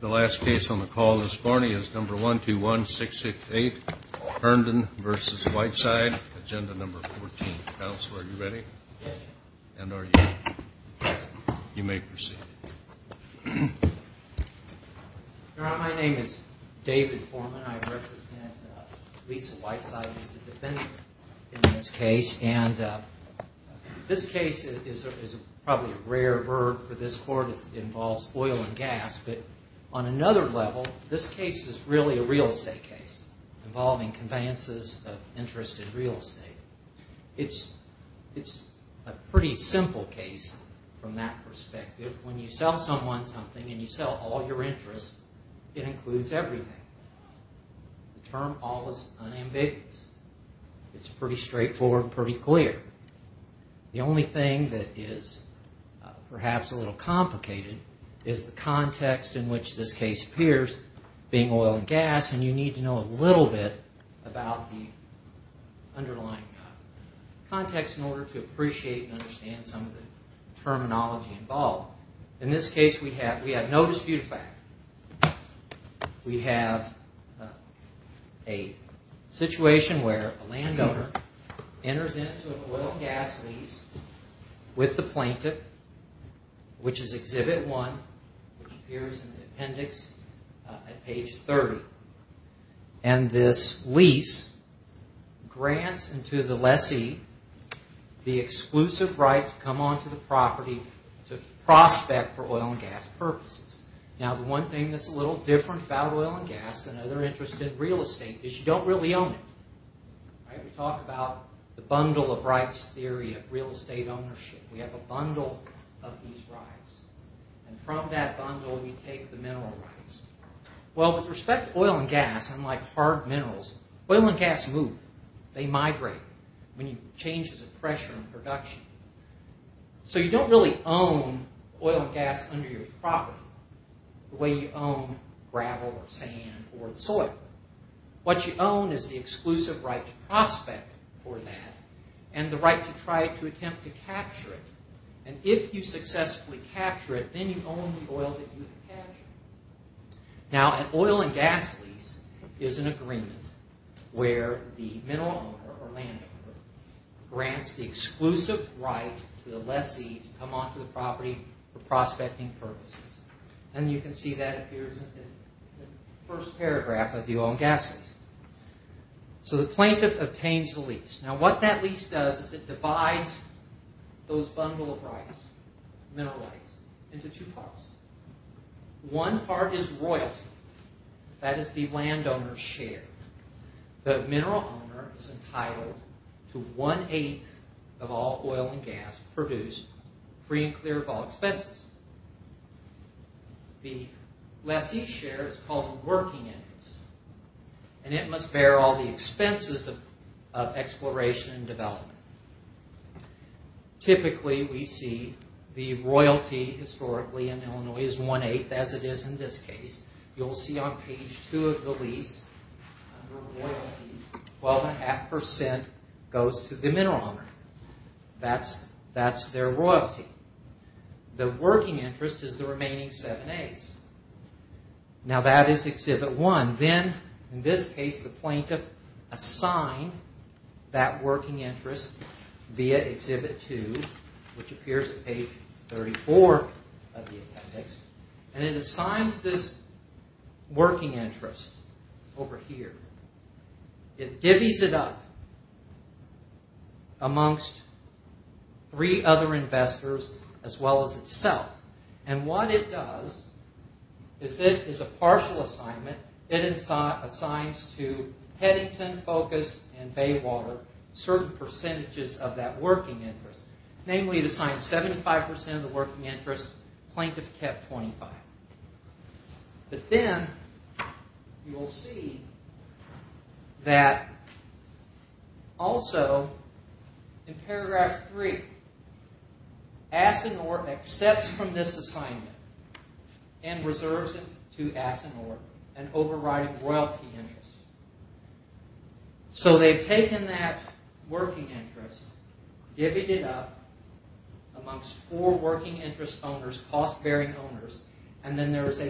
The last case on the call this morning is number 121668 Herndon v. Whiteside, agenda number 14. Counselor, are you ready? Yes. And are you? Yes. You may proceed. Your Honor, my name is David Foreman. I represent Lisa Whiteside as the defendant in this case. And this case is probably a rare bird for this court. It involves oil and gas. But on another level, this case is really a real estate case involving conveyances of interest in real estate. It's a pretty simple case from that perspective. When you sell someone something and you sell all your interest, it includes everything. The term all is unambiguous. It's pretty straightforward and pretty clear. The only thing that is perhaps a little complicated is the context in which this case appears, being oil and gas, and you need to know a little bit about the underlying context in order to appreciate and understand some of the terminology involved. In this case, we have no disputed fact. We have a situation where a landowner enters into an oil and gas lease with the plaintiff, which is Exhibit 1, which appears in the appendix at page 30. And this lease grants to the lessee the exclusive right to come onto the property to prospect for oil and gas purposes. Now, the one thing that's a little different about oil and gas than other interests in real estate is you don't really own it. We talk about the bundle of rights theory of real estate ownership. We have a bundle of these rights. And from that bundle, we take the mineral rights. Well, with respect to oil and gas, unlike hard minerals, oil and gas move. They migrate when you change the pressure in production. So you don't really own oil and gas under your property the way you own gravel or sand or soil. What you own is the exclusive right to prospect for that and the right to try to attempt to capture it. And if you successfully capture it, then you own the oil that you've captured. Now, an oil and gas lease is an agreement where the mineral owner or landowner grants the exclusive right to the lessee to come onto the property for prospecting purposes. And you can see that appears in the first paragraph of the oil and gas lease. So the plaintiff obtains the lease. Now, what that lease does is it divides those bundle of rights, mineral rights, into two parts. One part is royalty. That is the landowner's share. The mineral owner is entitled to one-eighth of all oil and gas produced free and clear of all expenses. The lessee's share is called the working interest, and it must bear all the expenses of exploration and development. Typically, we see the royalty historically in Illinois is one-eighth, as it is in this case. You'll see on page two of the lease, under royalties, 12.5% goes to the mineral owner. That's their royalty. The working interest is the remaining seven eighths. Now, that is exhibit one. Then, in this case, the plaintiff assigns that working interest via exhibit two, which appears on page 34 of the appendix. And it assigns this working interest over here. It divvies it up amongst three other investors as well as itself. And what it does is it is a partial assignment. It assigns to Heddington, Focus, and Baywater certain percentages of that working interest. Namely, it assigns 75% of the working interest. Plaintiff kept 25. But then, you will see that also in paragraph three, Asinor accepts from this assignment and reserves it to Asinor in overriding royalty interest. So, they've taken that working interest, divvied it up amongst four working interest owners, cost-bearing owners, and then there is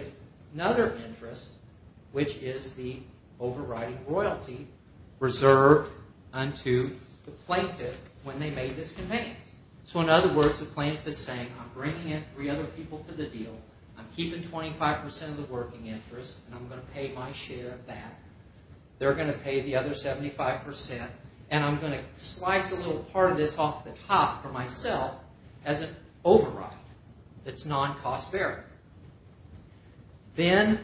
another interest, which is the overriding royalty, reserved unto the plaintiff when they made this conveyance. So, in other words, the plaintiff is saying, I'm bringing in three other people to the deal. I'm keeping 25% of the working interest, and I'm going to pay my share of that. They're going to pay the other 75%, and I'm going to slice a little part of this off the top for myself as an override. It's non-cost-bearing. In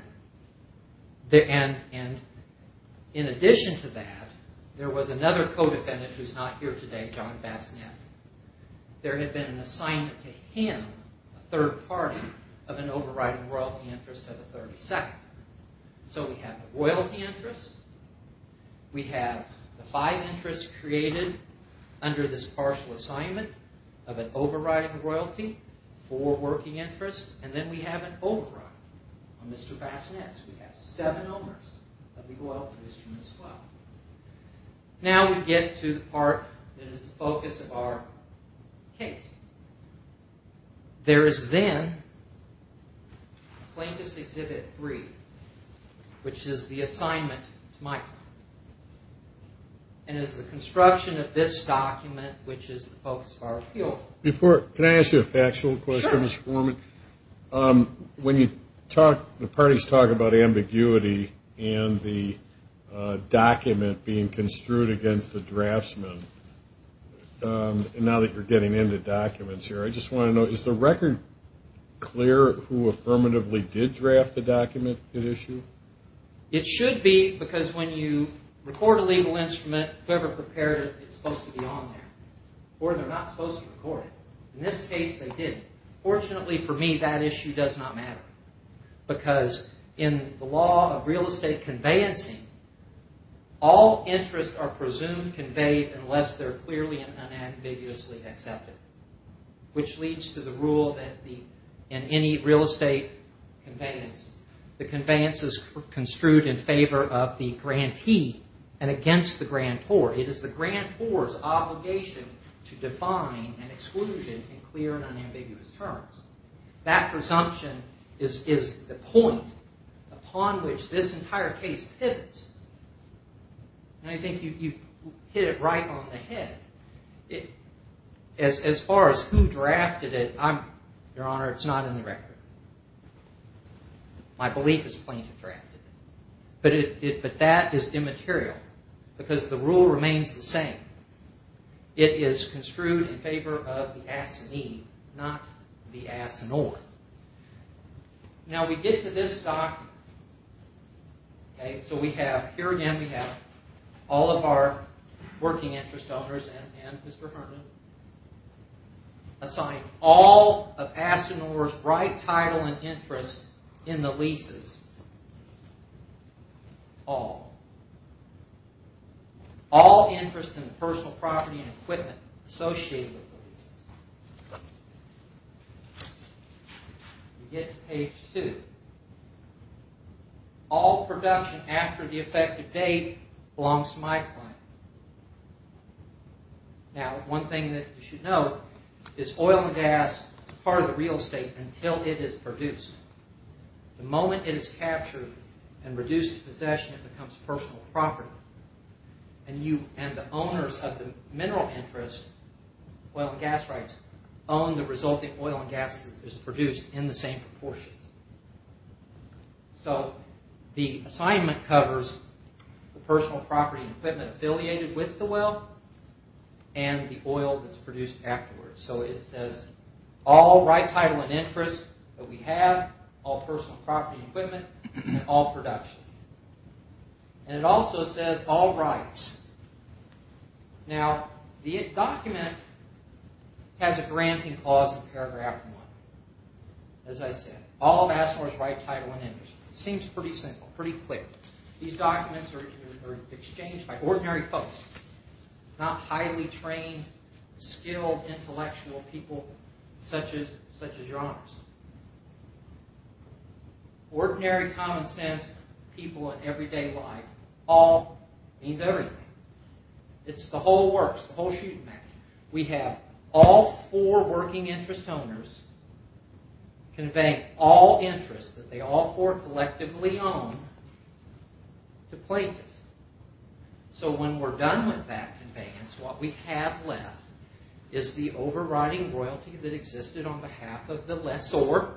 addition to that, there was another co-defendant who's not here today, John Bassanet. There had been an assignment to him, a third party, of an overriding royalty interest to the 32nd. So, we have the royalty interest. We have the five interests created under this partial assignment of an overriding royalty, four working interest, and then we have an override on Mr. Bassanet's. We have seven owners of the oil produced from this file. Now we get to the part that is the focus of our case. There is then Plaintiff's Exhibit 3, which is the assignment to my client, and is the construction of this document, which is the focus of our appeal. Can I ask you a factual question, Ms. Foreman? Sure. When you talk, the parties talk about ambiguity and the document being construed against the draftsman, and now that you're getting into documents here, I just want to know, is the record clear who affirmatively did draft the document at issue? It should be because when you record a legal instrument, whoever prepared it, it's supposed to be on there, or they're not supposed to record it. In this case, they didn't. Fortunately for me, that issue does not matter, because in the law of real estate conveyancing, all interests are presumed conveyed unless they're clearly and unambiguously accepted, which leads to the rule that in any real estate conveyance, the conveyance is construed in favor of the grantee and against the grantor. It is the grantor's obligation to define an exclusion in clear and unambiguous terms. That presumption is the point upon which this entire case pivots, and I think you hit it right on the head. As far as who drafted it, Your Honor, it's not in the record. My belief is plaintiff drafted it, but that is immaterial because the rule remains the same. It is construed in favor of the assignee, not the assinore. Now, we get to this document. Okay, so here again we have all of our working interest owners and Mr. Herman assigned all of assinore's right title and interest in the leases. All. All interest in the personal property and equipment associated with the leases. We get to page 2. All production after the effective date belongs to my client. Now, one thing that you should know is oil and gas is part of the real estate until it is produced. The moment it is captured and reduced to possession, it becomes personal property. And the owners of the mineral interest, oil and gas rights, own the resulting oil and gas that is produced in the same proportions. So, the assignment covers the personal property and equipment affiliated with the well and the oil that is produced afterwards. So, it says all right title and interest that we have, all personal property and equipment, and all production. And it also says all rights. Now, the document has a granting clause in paragraph 1. As I said, all of assinore's right title and interest. Seems pretty simple, pretty clear. These documents are exchanged by ordinary folks. Not highly trained, skilled intellectual people such as your honors. Ordinary common sense people in everyday life. All means everything. It's the whole works, the whole shooting match. We have all four working interest owners conveying all interest that they all four collectively own to plaintiffs. So, when we're done with that conveyance, what we have left is the overriding royalty that existed on behalf of the lessor.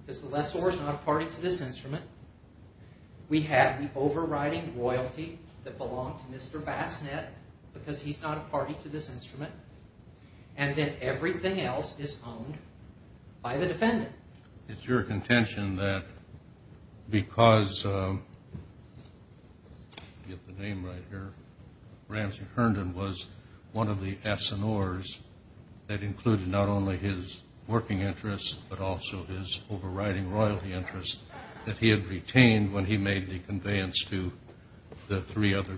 Because the lessor is not a party to this instrument. We have the overriding royalty that belonged to Mr. Bassnett because he's not a party to this instrument. And then everything else is owned by the defendant. It's your contention that because, get the name right here, Ramsey Herndon was one of the assinores that included not only his working interest, but also his overriding royalty interest that he had retained when he made the conveyance to the three other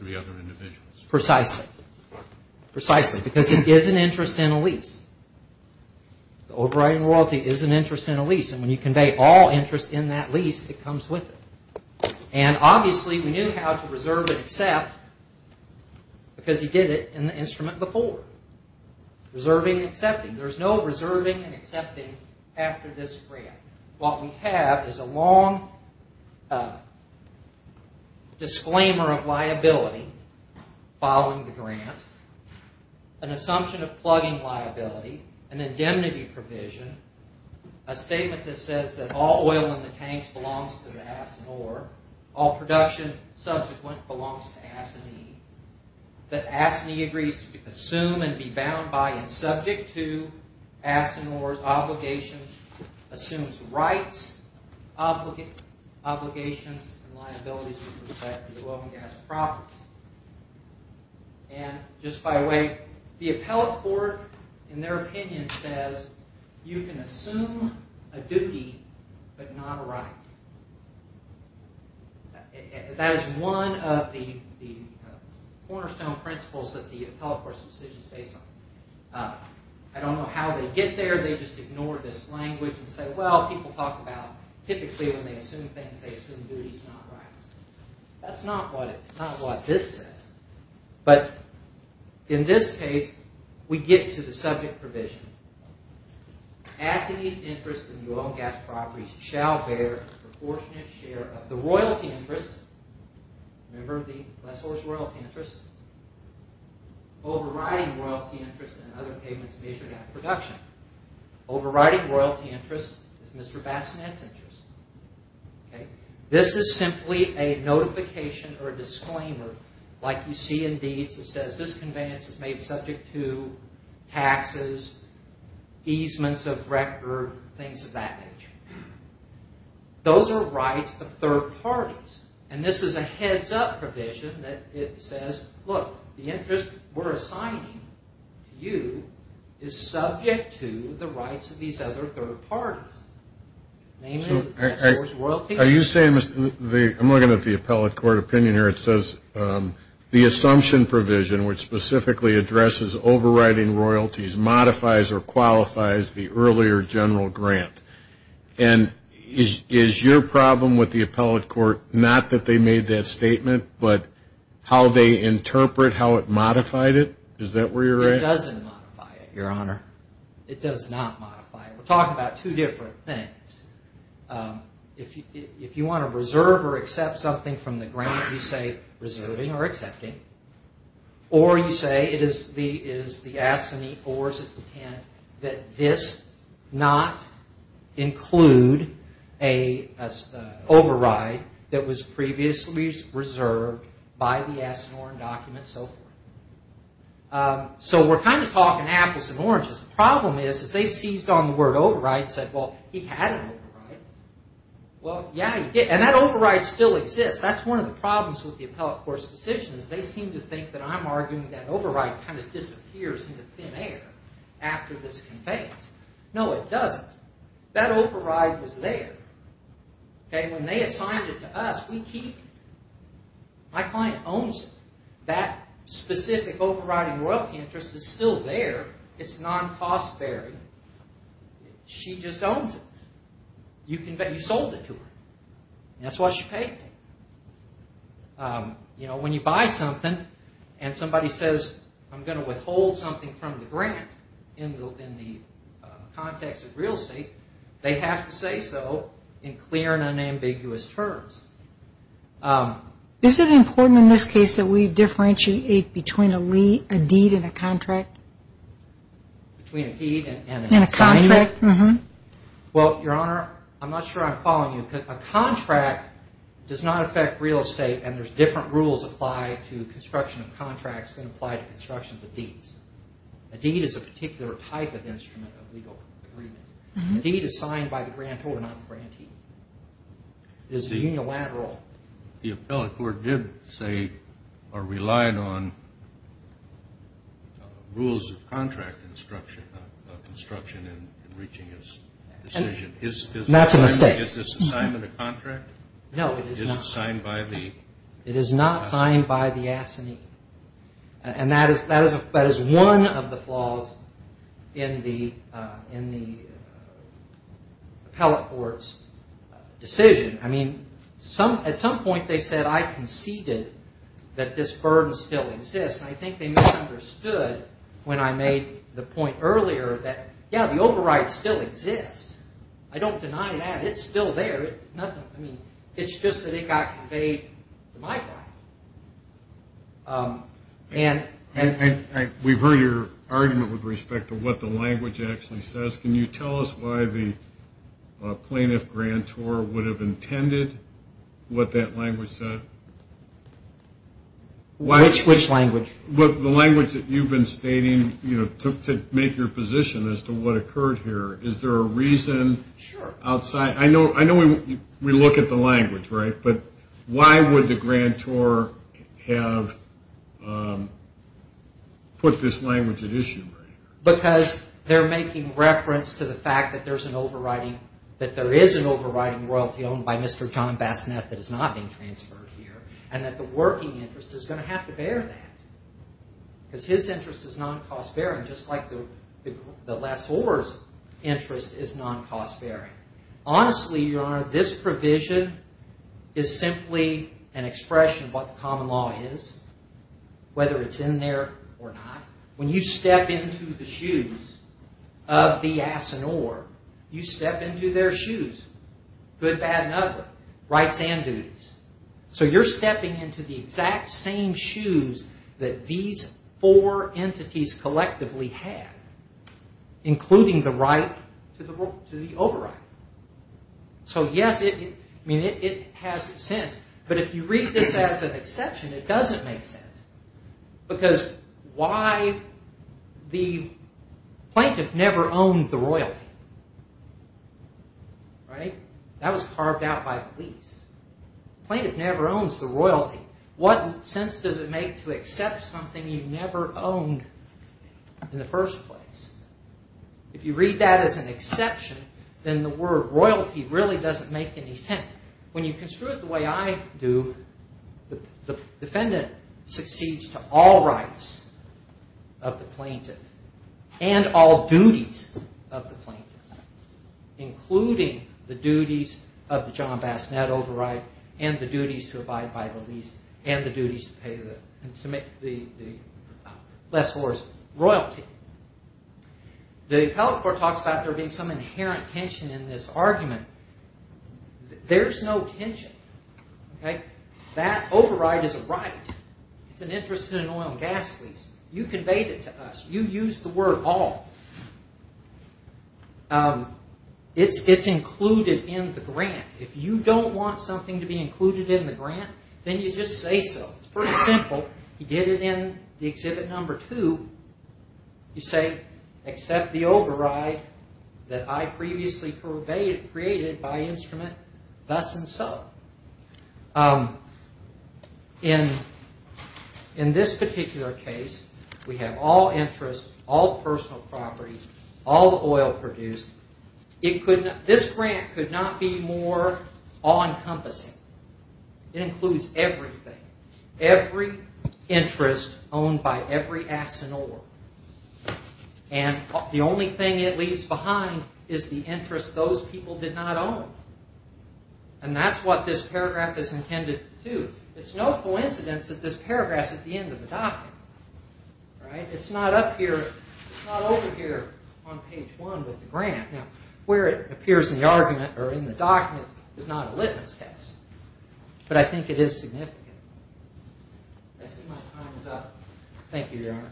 individuals. Precisely. Precisely, because it gives an interest in a lease. The overriding royalty is an interest in a lease. And when you convey all interest in that lease, it comes with it. And obviously, we knew how to reserve and accept because he did it in the instrument before. Reserving and accepting. There's no reserving and accepting after this grant. What we have is a long disclaimer of liability following the grant, an assumption of plugging liability, an indemnity provision, a statement that says that all oil in the tanks belongs to the assinore, all production subsequent belongs to assinee, that assinee agrees to assume and be bound by and subject to assinore's obligations, assumes rights, obligations, and liabilities with respect to the oil and gas properties. And just by the way, the appellate court, in their opinion, says you can assume a duty, but not a right. That is one of the cornerstone principles that the appellate court's decision is based on. I don't know how they get there. They just ignore this language and say, well, people talk about typically when they assume things, they assume duties, not rights. That's not what this says. But in this case, we get to the subject provision. Assinee's interest in the oil and gas properties shall bear a proportionate share of the royalty interest. Remember the lessor's royalty interest? Overriding royalty interest in other payments measured after production. Overriding royalty interest is Mr. Bassinet's interest. This is simply a notification or a disclaimer, like you see in deeds that says this conveyance is made subject to taxes, easements of record, things of that nature. Those are rights of third parties, and this is a heads-up provision that it says, look, the interest we're assigning to you is subject to the rights of these other third parties. Namely, the lessor's royalty interest. I'm looking at the appellate court opinion here. It says the assumption provision, which specifically addresses overriding royalties, modifies or qualifies the earlier general grant. And is your problem with the appellate court not that they made that statement, but how they interpret how it modified it? Is that where you're at? It doesn't modify it, Your Honor. It does not modify it. We're talking about two different things. If you want to reserve or accept something from the grant, you say reserving or accepting. Or you say it is the assignee or is it the tenant that this not include an override that was previously reserved by the Asinorin document, so forth. So we're kind of talking apples and oranges. The problem is they seized on the word override and said, well, he had an override. Well, yeah, he did, and that override still exists. That's one of the problems with the appellate court's decision is they seem to think that I'm arguing that override kind of disappears into thin air after this conveyance. No, it doesn't. That override was there. When they assigned it to us, we keep it. My client owns it. That specific overriding royalty interest is still there. It's non-cost bearing. She just owns it. You sold it to her. That's what she paid for. When you buy something and somebody says, I'm going to withhold something from the grant in the context of real estate, they have to say so in clear and unambiguous terms. Is it important in this case that we differentiate between a deed and a contract? Between a deed and an assignment? And a contract. Well, Your Honor, I'm not sure I'm following you. A contract does not affect real estate and there's different rules applied to construction of contracts than apply to construction of deeds. A deed is a particular type of instrument of legal agreement. A deed is signed by the grantor, not the grantee. It is unilateral. The appellate court did say or relied on rules of contract construction in reaching its decision. That's a mistake. Is this assignment a contract? No, it is not. Is it signed by the assignee? It is not signed by the assignee. And that is one of the flaws in the appellate court's decision. I mean, at some point they said, I conceded that this burden still exists. And I think they misunderstood when I made the point earlier that, yeah, the override still exists. I don't deny that. It's still there. I mean, it's just that it got conveyed to my client. And we've heard your argument with respect to what the language actually says. Can you tell us why the plaintiff grantor would have intended what that language said? Which language? The language that you've been stating to make your position as to what occurred here. Is there a reason outside? Sure. I know we look at the language, right? But why would the grantor have put this language at issue? Because they're making reference to the fact that there is an overriding royalty owned by Mr. John Bassanet that is not being transferred here and that the working interest is going to have to bear that because his interest is non-cost-bearing, just like the lessor's interest is non-cost-bearing. Honestly, Your Honor, this provision is simply an expression of what the common law is, whether it's in there or not. When you step into the shoes of the ass and oar, you step into their shoes, good, bad, and ugly, rights and duties. So you're stepping into the exact same shoes that these four entities collectively have, including the right to the overriding. So, yes, it has sense. But if you read this as an exception, it doesn't make sense because why the plaintiff never owned the royalty, right? That was carved out by the police. The plaintiff never owns the royalty. What sense does it make to accept something you never owned in the first place? If you read that as an exception, then the word royalty really doesn't make any sense. When you construe it the way I do, the defendant succeeds to all rights of the plaintiff and all duties of the plaintiff, including the duties of the John Bass Net override and the duties to abide by the lease and the duties to pay the lessor's royalty. The appellate court talks about there being some inherent tension in this argument. There's no tension. That override is a right. It's an interest in an oil and gas lease. You conveyed it to us. You used the word all. It's included in the grant. If you don't want something to be included in the grant, then you just say so. It's pretty simple. You did it in the Exhibit No. 2. You say, accept the override that I previously created by instrument, thus and so. In this particular case, we have all interest, all personal property, all the oil produced. This grant could not be more all-encompassing. It includes everything, every interest owned by every ass and oar. And the only thing it leaves behind is the interest those people did not own. And that's what this paragraph is intended to do. It's no coincidence that this paragraph's at the end of the document. It's not up here. It's not over here on page 1 with the grant. Now, where it appears in the argument or in the document is not a litmus test, but I think it is significant. I see my time is up. Thank you, Your Honor.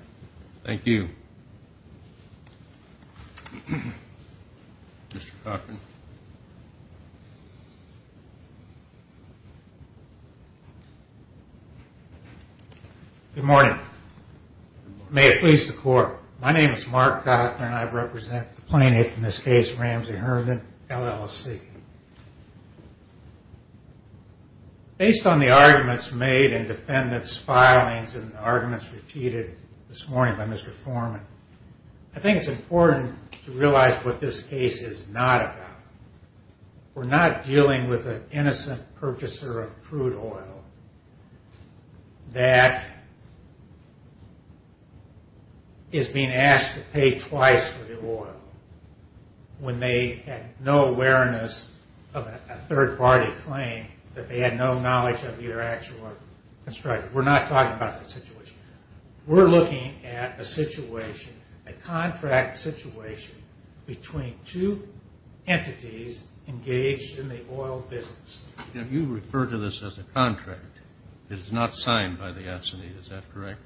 Thank you. Mr. Gottman. Good morning. May it please the Court, my name is Mark Gottman, and I represent the plaintiff in this case, Ramsey Herndon, LLC. Based on the arguments made in defendant's filings and the arguments repeated this morning by Mr. Foreman, I think it's important to realize what this case is not about. We're not dealing with an innocent purchaser of crude oil that is being asked to pay twice for the oil when they had no awareness of a third-party claim that they had no knowledge of the actual construction. We're not talking about the situation. We're looking at a situation, a contract situation, between two entities engaged in the oil business. You refer to this as a contract. It is not signed by the S&E. Is that correct?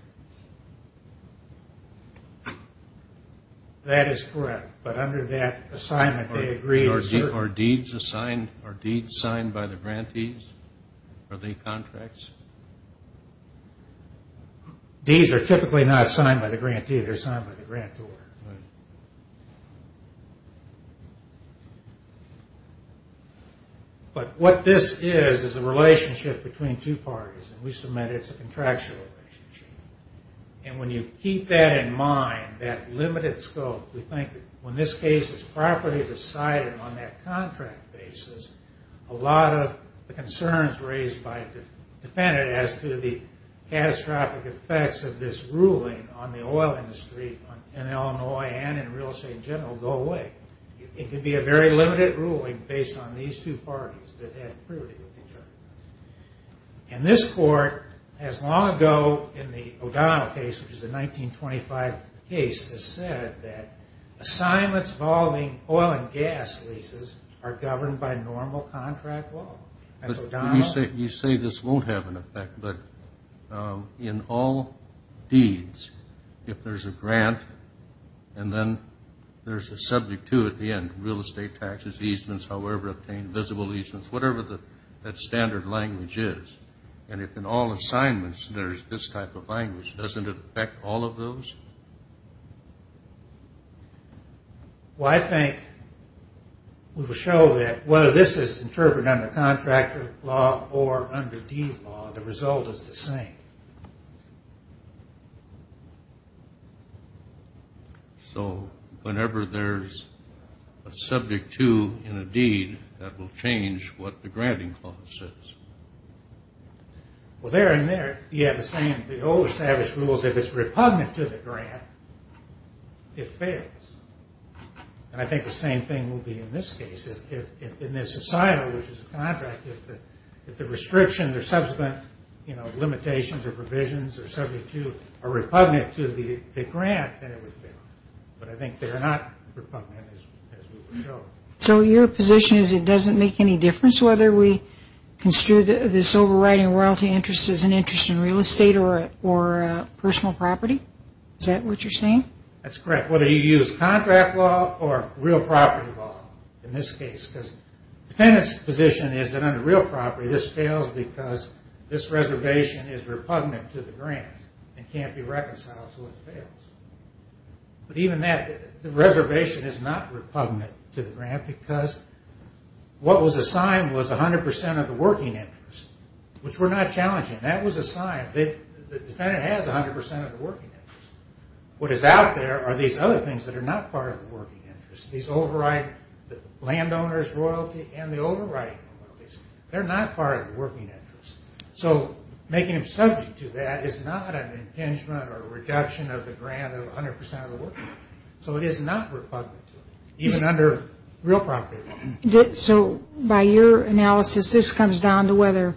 That is correct. But under that assignment, they agreed to certain... Are deeds signed by the grantees or the contracts? Deeds are typically not signed by the grantee. They're signed by the grantor. But what this is is a relationship between two parties, and we submit it's a contractual relationship. And when you keep that in mind, that limited scope, we think that when this case is properly decided on that contract basis, a lot of the concerns raised by the defendant as to the catastrophic effects of this ruling on the oil industry in Illinois and in real estate in general go away. It could be a very limited ruling based on these two parties that had priority with each other. And this court, as long ago in the O'Donnell case, which is a 1925 case, has said that assignments involving oil and gas leases are governed by normal contract law. As O'Donnell... You say this won't have an effect, but in all deeds, if there's a grant and then there's a subject to it at the end, real estate taxes, easements, however obtained, visible easements, whatever that standard language is, and if in all assignments there's this type of language, doesn't it affect all of those? Well, I think we will show that whether this is interpreted under contract law or under deed law, the result is the same. So whenever there's a subject to in a deed that will change what the granting clause says. Well, there and there, yeah, the old established rules, if it's repugnant to the grant, it fails. And I think the same thing will be in this case. In this society, which is a contract, if the restrictions or subsequent limitations or provisions are subject to or repugnant to the grant, then it would fail. But I think they're not repugnant as we will show. So your position is it doesn't make any difference whether we construe this overriding royalty interest as an interest in real estate or personal property? Is that what you're saying? That's correct. Whether you use contract law or real property law in this case because the defendant's position is that under real property, this fails because this reservation is repugnant to the grant and can't be reconciled, so it fails. But even that, the reservation is not repugnant to the grant because what was assigned was 100% of the working interest, which we're not challenging. That was assigned. The defendant has 100% of the working interest. What is out there are these other things that are not part of the working interest, these landowners' royalty and the overriding royalties. They're not part of the working interest. So making them subject to that is not an impingement or a reduction of the grant of 100% of the working interest. So it is not repugnant to it, even under real property law. So by your analysis, this comes down to whether,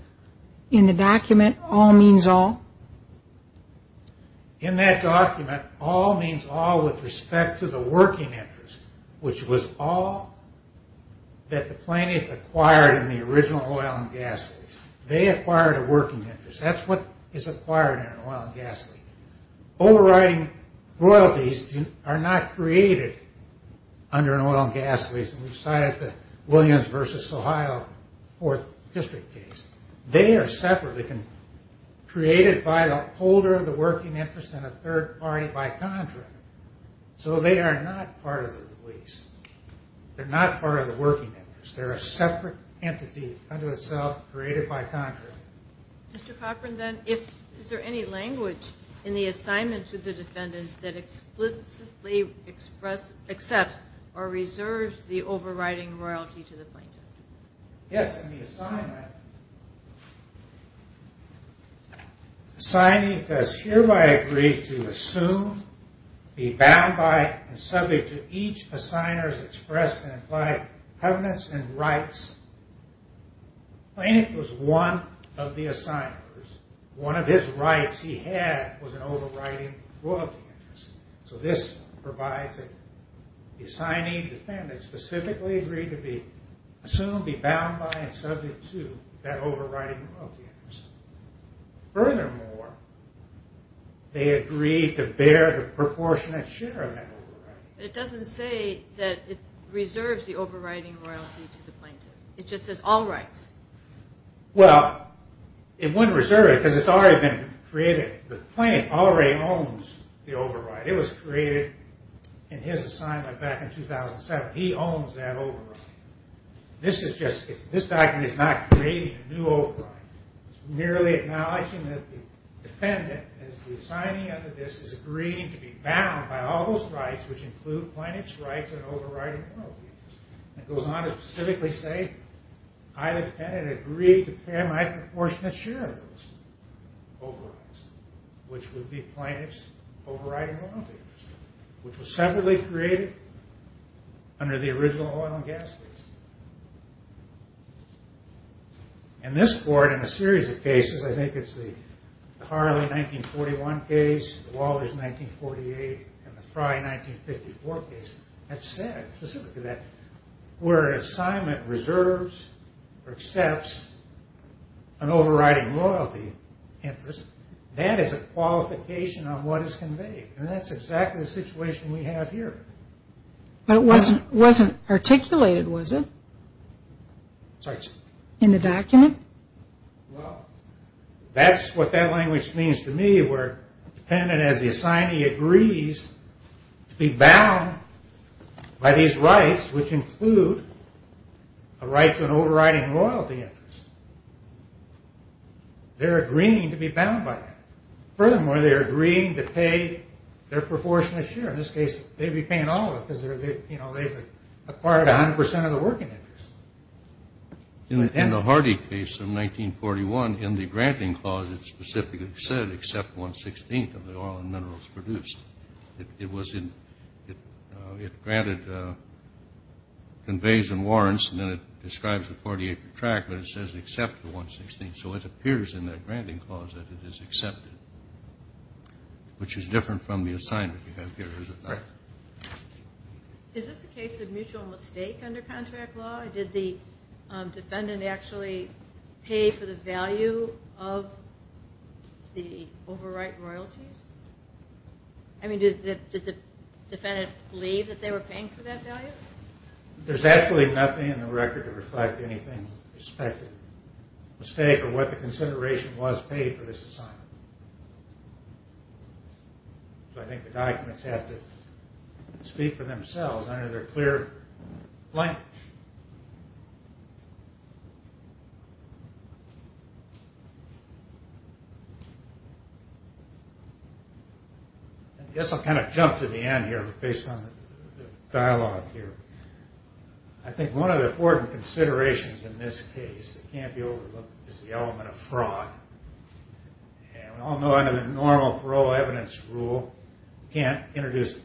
in the document, all means all? In that document, all means all with respect to the working interest, which was all that the plaintiff acquired in the original oil and gas lease. They acquired a working interest. That's what is acquired in an oil and gas lease. Overriding royalties are not created under an oil and gas lease. We cited the Williams v. Ohio Fourth District case. They are separately created by the holder of the working interest and a third party by contract. So they are not part of the lease. They're not part of the working interest. They're a separate entity unto itself created by contract. Mr. Cochran, then, is there any language in the assignment to the defendant that explicitly accepts or reserves the overriding royalty to the plaintiff? Yes, in the assignment. Assigning does hereby agree to assume, be bound by, and subject to each assigner's expressed and implied covenants and rights. The plaintiff was one of the assigners. One of his rights he had was an overriding royalty interest. So this provides that the assigning defendant specifically agreed to be assumed, be bound by, and subject to that overriding royalty interest. Furthermore, they agreed to bear the proportionate share of that overriding. It doesn't say that it reserves the overriding royalty to the plaintiff. It just says all rights. Well, it wouldn't reserve it because it's already been created. The plaintiff already owns the overriding. It was created in his assignment back in 2007. He owns that overriding. This document is not creating a new overriding. It's merely acknowledging that the defendant, as the assignee under this, is agreeing to be bound by all those rights, which include plaintiff's rights and overriding royalty interest. It goes on to specifically say, I, the defendant, agree to bear my proportionate share of those overrides, which would be plaintiff's overriding royalty interest, which was separately created under the original oil and gas lease. In this court, in a series of cases, I think it's the Harley 1941 case, the Wallers 1948, and the Frye 1954 case, have said specifically that where an assignment reserves or accepts an overriding royalty interest, that is a qualification on what is conveyed. And that's exactly the situation we have here. But it wasn't articulated, was it? Sorry? In the document? Well, that's what that language means to me, where the defendant, as the assignee, agrees to be bound by these rights, which include a right to an overriding royalty interest. They're agreeing to be bound by that. Furthermore, they're agreeing to pay their proportionate share. In this case, they'd be paying all of it because they've acquired 100% of the working interest. In the Hardy case of 1941, in the granting clause, it specifically said accept one-sixteenth of the oil and minerals produced. It granted conveys and warrants, and then it describes the 40-acre tract, but it says accept the one-sixteenth. So it appears in that granting clause that it is accepted, which is different from the assignment you have here, is it not? Is this a case of mutual mistake under contract law? Did the defendant actually pay for the value of the overriding royalties? I mean, did the defendant believe that they were paying for that value? There's absolutely nothing in the record to reflect anything with respect to mistake or what the consideration was paid for this assignment. So I think the documents have to speak for themselves under their clear language. I guess I'll kind of jump to the end here based on the dialogue here. I think one of the important considerations in this case that can't be overlooked is the element of fraud. We all know under the normal parole evidence rule, you can't introduce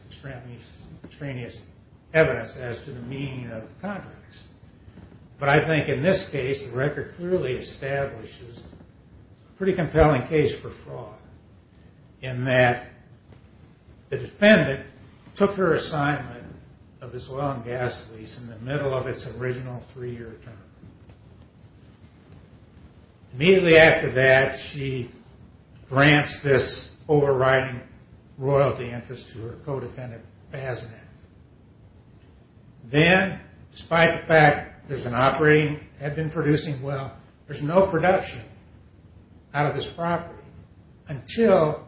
extraneous evidence as to the meaning of contracts. But I think in this case, the record clearly establishes a pretty compelling case for fraud, in that the defendant took her assignment of this oil and gas lease in the middle of its original three-year term. Immediately after that, she grants this overriding royalty interest to her co-defendant, Bazineth. Then, despite the fact there's an operating, had been producing well, there's no production out of this property until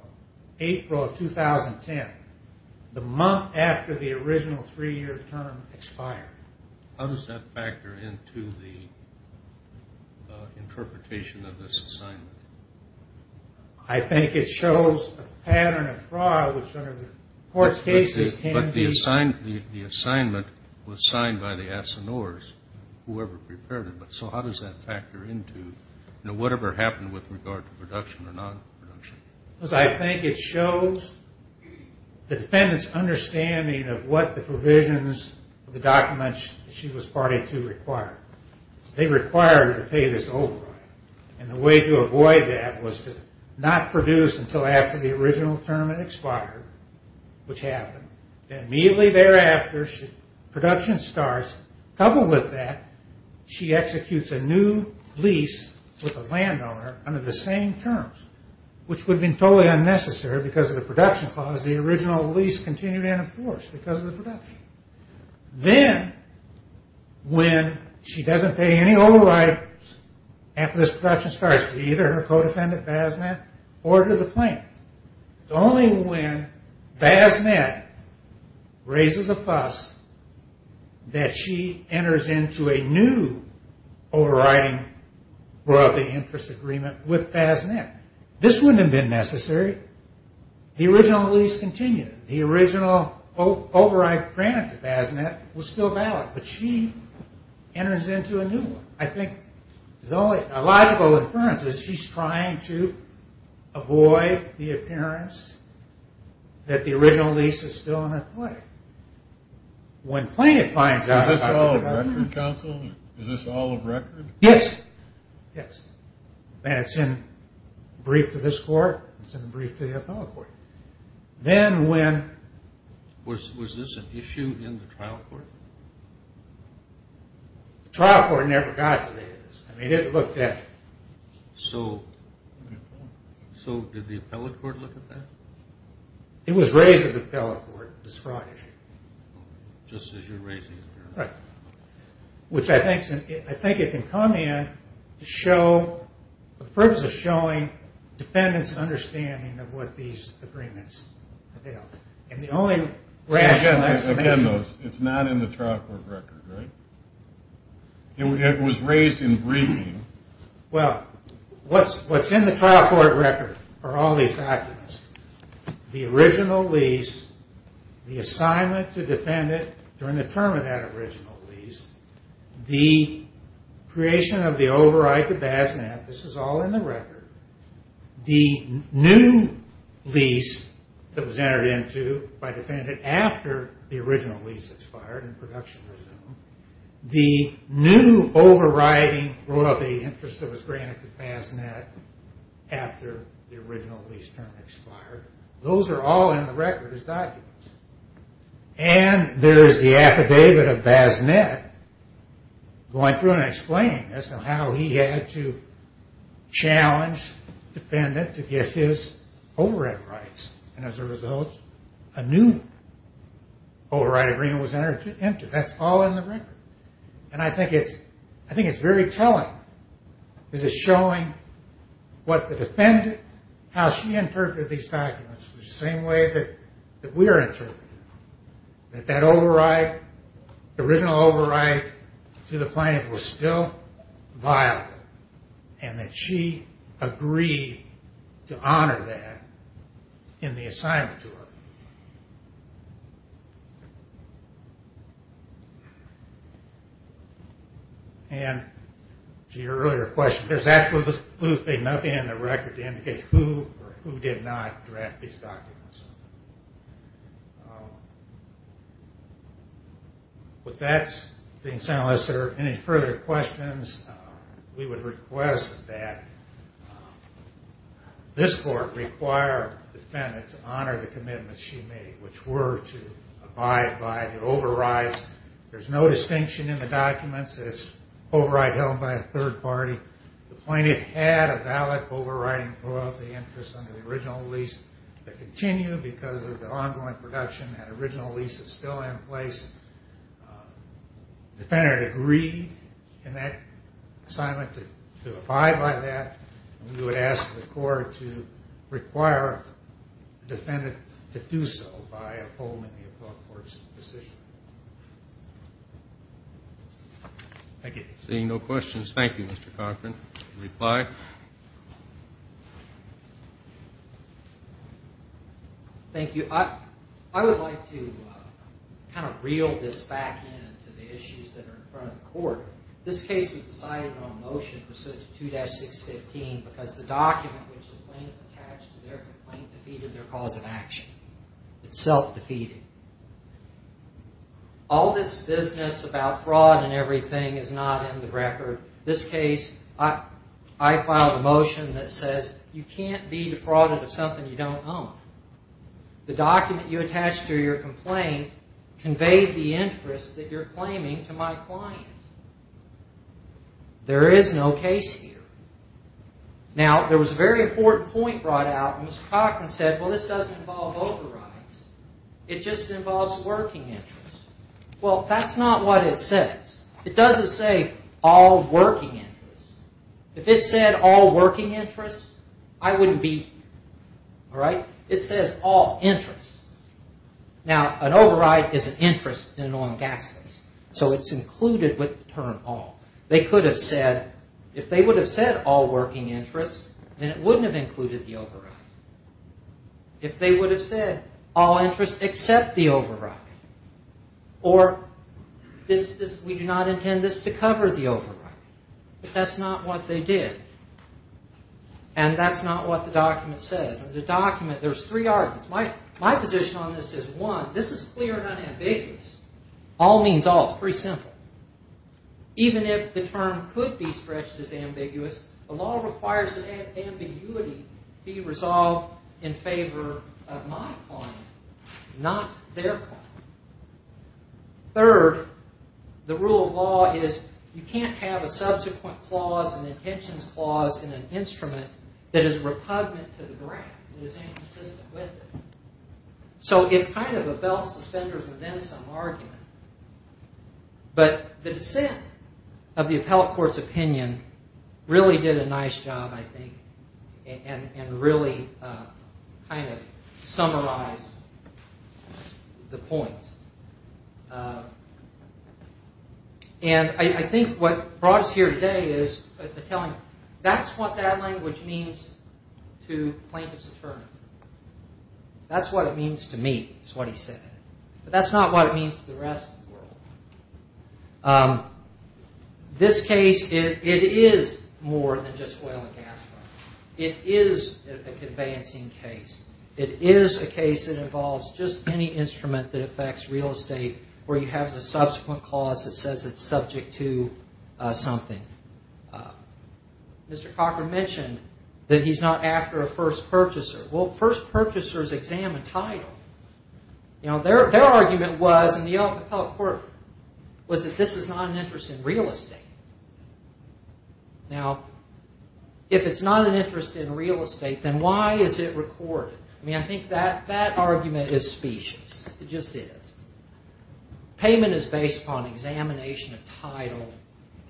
April of 2010, the month after the original three-year term expired. How does that factor into the interpretation of this assignment? I think it shows a pattern of fraud which under the court's cases can be... But the assignment was signed by the assignors, whoever prepared it. So how does that factor into whatever happened with regard to production or non-production? I think it shows the defendant's understanding of what the provisions, the documents she was party to required. They required her to pay this overriding. And the way to avoid that was to not produce until after the original term had expired, which happened. And immediately thereafter, production starts. Coupled with that, she executes a new lease with a landowner under the same terms, which would have been totally unnecessary because of the production clause. The original lease continued and enforced because of the production. Then, when she doesn't pay any overrides after this production starts, either her co-defendant, Bazineth, ordered the claim. It's only when Bazineth raises a fuss that she enters into a new overriding interest agreement with Bazineth. This wouldn't have been necessary. The original lease continued. The original override granted to Bazineth was still valid, but she enters into a new one. I think the only logical inference is she's trying to avoid the appearance that the original lease is still under play. When plaintiff finds out... Is this all of record, counsel? Is this all of record? Yes. Yes. And it's in brief to this court. It's in brief to the appellate court. Then when... Was this an issue in the trial court? The trial court never got to this. I mean, it looked at... So did the appellate court look at that? It was raised at the appellate court, this fraud issue. Just as you're raising it here. Right. Which I think it can come in to show... The purpose is showing defendant's understanding of what these agreements entail. And the only rational explanation... Again, though, it's not in the trial court record, right? It was raised in briefing. Well, what's in the trial court record are all these documents. The original lease, the assignment to defendant during the term of that original lease, the creation of the override to BASNAT. This is all in the record. The new lease that was entered into by defendant after the original lease expired and production resumed. The new overriding royalty interest that was granted to BASNAT after the original lease term expired. Those are all in the record as documents. And there is the affidavit of BASNAT going through and explaining this and how he had to challenge defendant to get his override rights. And as a result, a new override agreement was entered into. That's all in the record. And I think it's very telling. This is showing what the defendant, how she interpreted these documents in the same way that we are interpreting them. That that override, the original override to the plaintiff was still viable and that she agreed to honor that in the assignment to her. And to your earlier question, there's absolutely nothing in the record to indicate who did not draft these documents. With that being said, unless there are any further questions, we would request that this court require defendant to honor the commitments she made, which were to abide by the overrides. There's no distinction in the documents. It's override held by a third party. The plaintiff had a valid overriding royalty interest under the original lease that continued because of the ongoing production. That original lease is still in place. Defendant agreed in that assignment to abide by that. We would ask the court to require the defendant to do so by upholding the appellate court's position. Thank you. Seeing no questions, thank you, Mr. Cochran. Reply. Thank you. I would like to kind of reel this back into the issues that are in front of the court. This case we decided on a motion pursuant to 2-615 because the document which the plaintiff attached to their complaint defeated their cause of action. It's self-defeating. All this business about fraud and everything is not in the record. This case, I filed a motion that says, you can't be defrauded of something you don't own. The document you attached to your complaint conveyed the interest that you're claiming to my client. There is no case here. Now, there was a very important point brought out, and Mr. Cochran said, well, this doesn't involve overrides. It just involves working interest. Well, that's not what it says. It doesn't say all working interest. If it said all working interest, I wouldn't be here. All right? It says all interest. Now, an override is an interest in an oil and gas case, so it's included with the term all. They could have said, if they would have said all working interest, then it wouldn't have included the override. If they would have said all interest except the override, or we do not intend this to cover the override. That's not what they did, and that's not what the document says. There's three arguments. My position on this is, one, this is clear and unambiguous. All means all. It's pretty simple. Even if the term could be stretched as ambiguous, the law requires that ambiguity be resolved in favor of my client, not their client. Third, the rule of law is you can't have a subsequent clause, an intentions clause in an instrument that is repugnant to the grant. It is inconsistent with it. So it's kind of a belt suspenders and then some argument. But the dissent of the appellate court's opinion really did a nice job, I think, and really kind of summarized the points. And I think what brought us here today is the telling. That's what that language means to plaintiff's attorney. That's what it means to me, is what he said. But that's not what it means to the rest of the world. This case, it is more than just oil and gas fraud. It is a conveyancing case. It is a case that involves just any instrument that affects real estate where you have the subsequent clause that says it's subject to something. Mr. Cocker mentioned that he's not after a first purchaser. Well, first purchasers examine title. Their argument was, in the appellate court, was that this is not an interest in real estate. Now, if it's not an interest in real estate, then why is it recorded? I mean, I think that argument is specious. It just is. Payment is based upon examination of title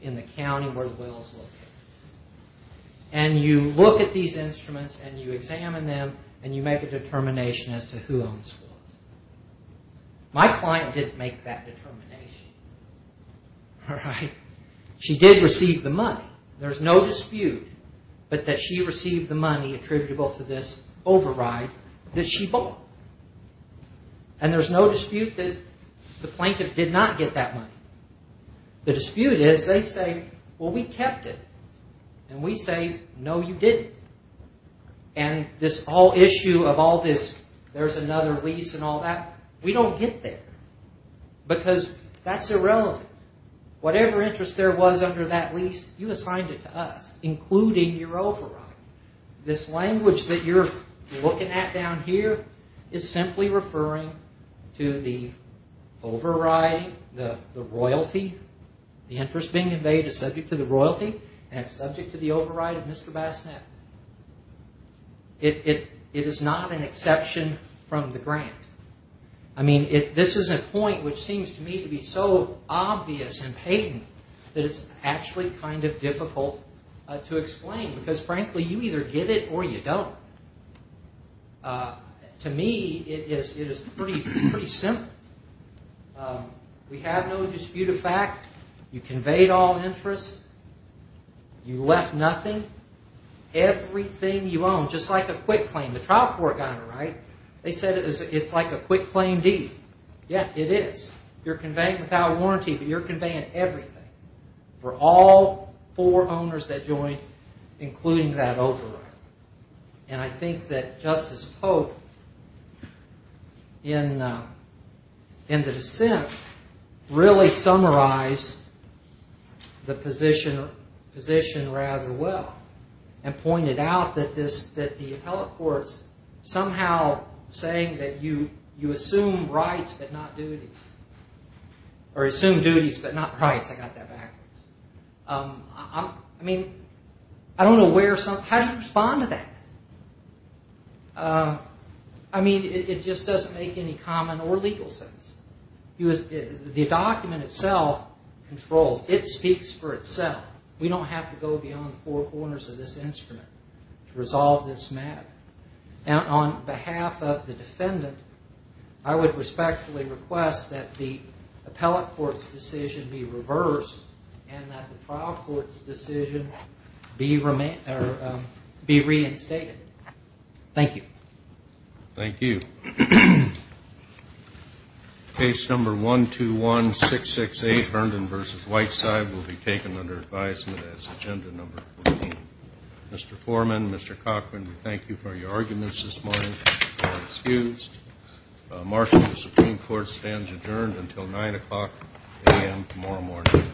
in the county where the will is located. And you look at these instruments and you examine them and you make a determination as to who owns what. My client didn't make that determination. All right? She did receive the money. There's no dispute that she received the money attributable to this override that she bought. And there's no dispute that the plaintiff did not get that money. The dispute is they say, well, we kept it. And we say, no, you didn't. And this whole issue of all this, there's another lease and all that, we don't get there. Because that's irrelevant. Whatever interest there was under that lease, you assigned it to us, including your override. This language that you're looking at down here is simply referring to the overriding, the royalty. The interest being invaded is subject to the royalty and it's subject to the override of Mr. Bassanet. It is not an exception from the grant. I mean, this is a point which seems to me to be so obvious and patent that it's actually kind of difficult to explain. Because, frankly, you either get it or you don't. To me, it is pretty simple. We have no dispute of fact. You conveyed all interest. You left nothing. Everything you own, just like a quick claim. The trial court got it right. They said it's like a quick claim deed. Yeah, it is. You're conveying without warranty, but you're conveying everything. For all four owners that joined, including that override. And I think that Justice Pope, in the dissent, really summarized the position rather well. And pointed out that the appellate courts somehow saying that you assume rights, but not duties. Or assume duties, but not rights. I got that backwards. I mean, I don't know where some, how do you respond to that? I mean, it just doesn't make any common or legal sense. The document itself controls. It speaks for itself. We don't have to go beyond the four corners of this instrument to resolve this matter. Now, on behalf of the defendant, I would respectfully request that the appellate court's decision be reversed and that the trial court's decision be reinstated. Thank you. Thank you. Case number 121668, Herndon v. Whiteside, will be taken under advisement as agenda number 14. Mr. Foreman, Mr. Cochran, we thank you for your arguments this morning. You are excused. Martial of the Supreme Court stands adjourned until 9 o'clock a.m. tomorrow morning.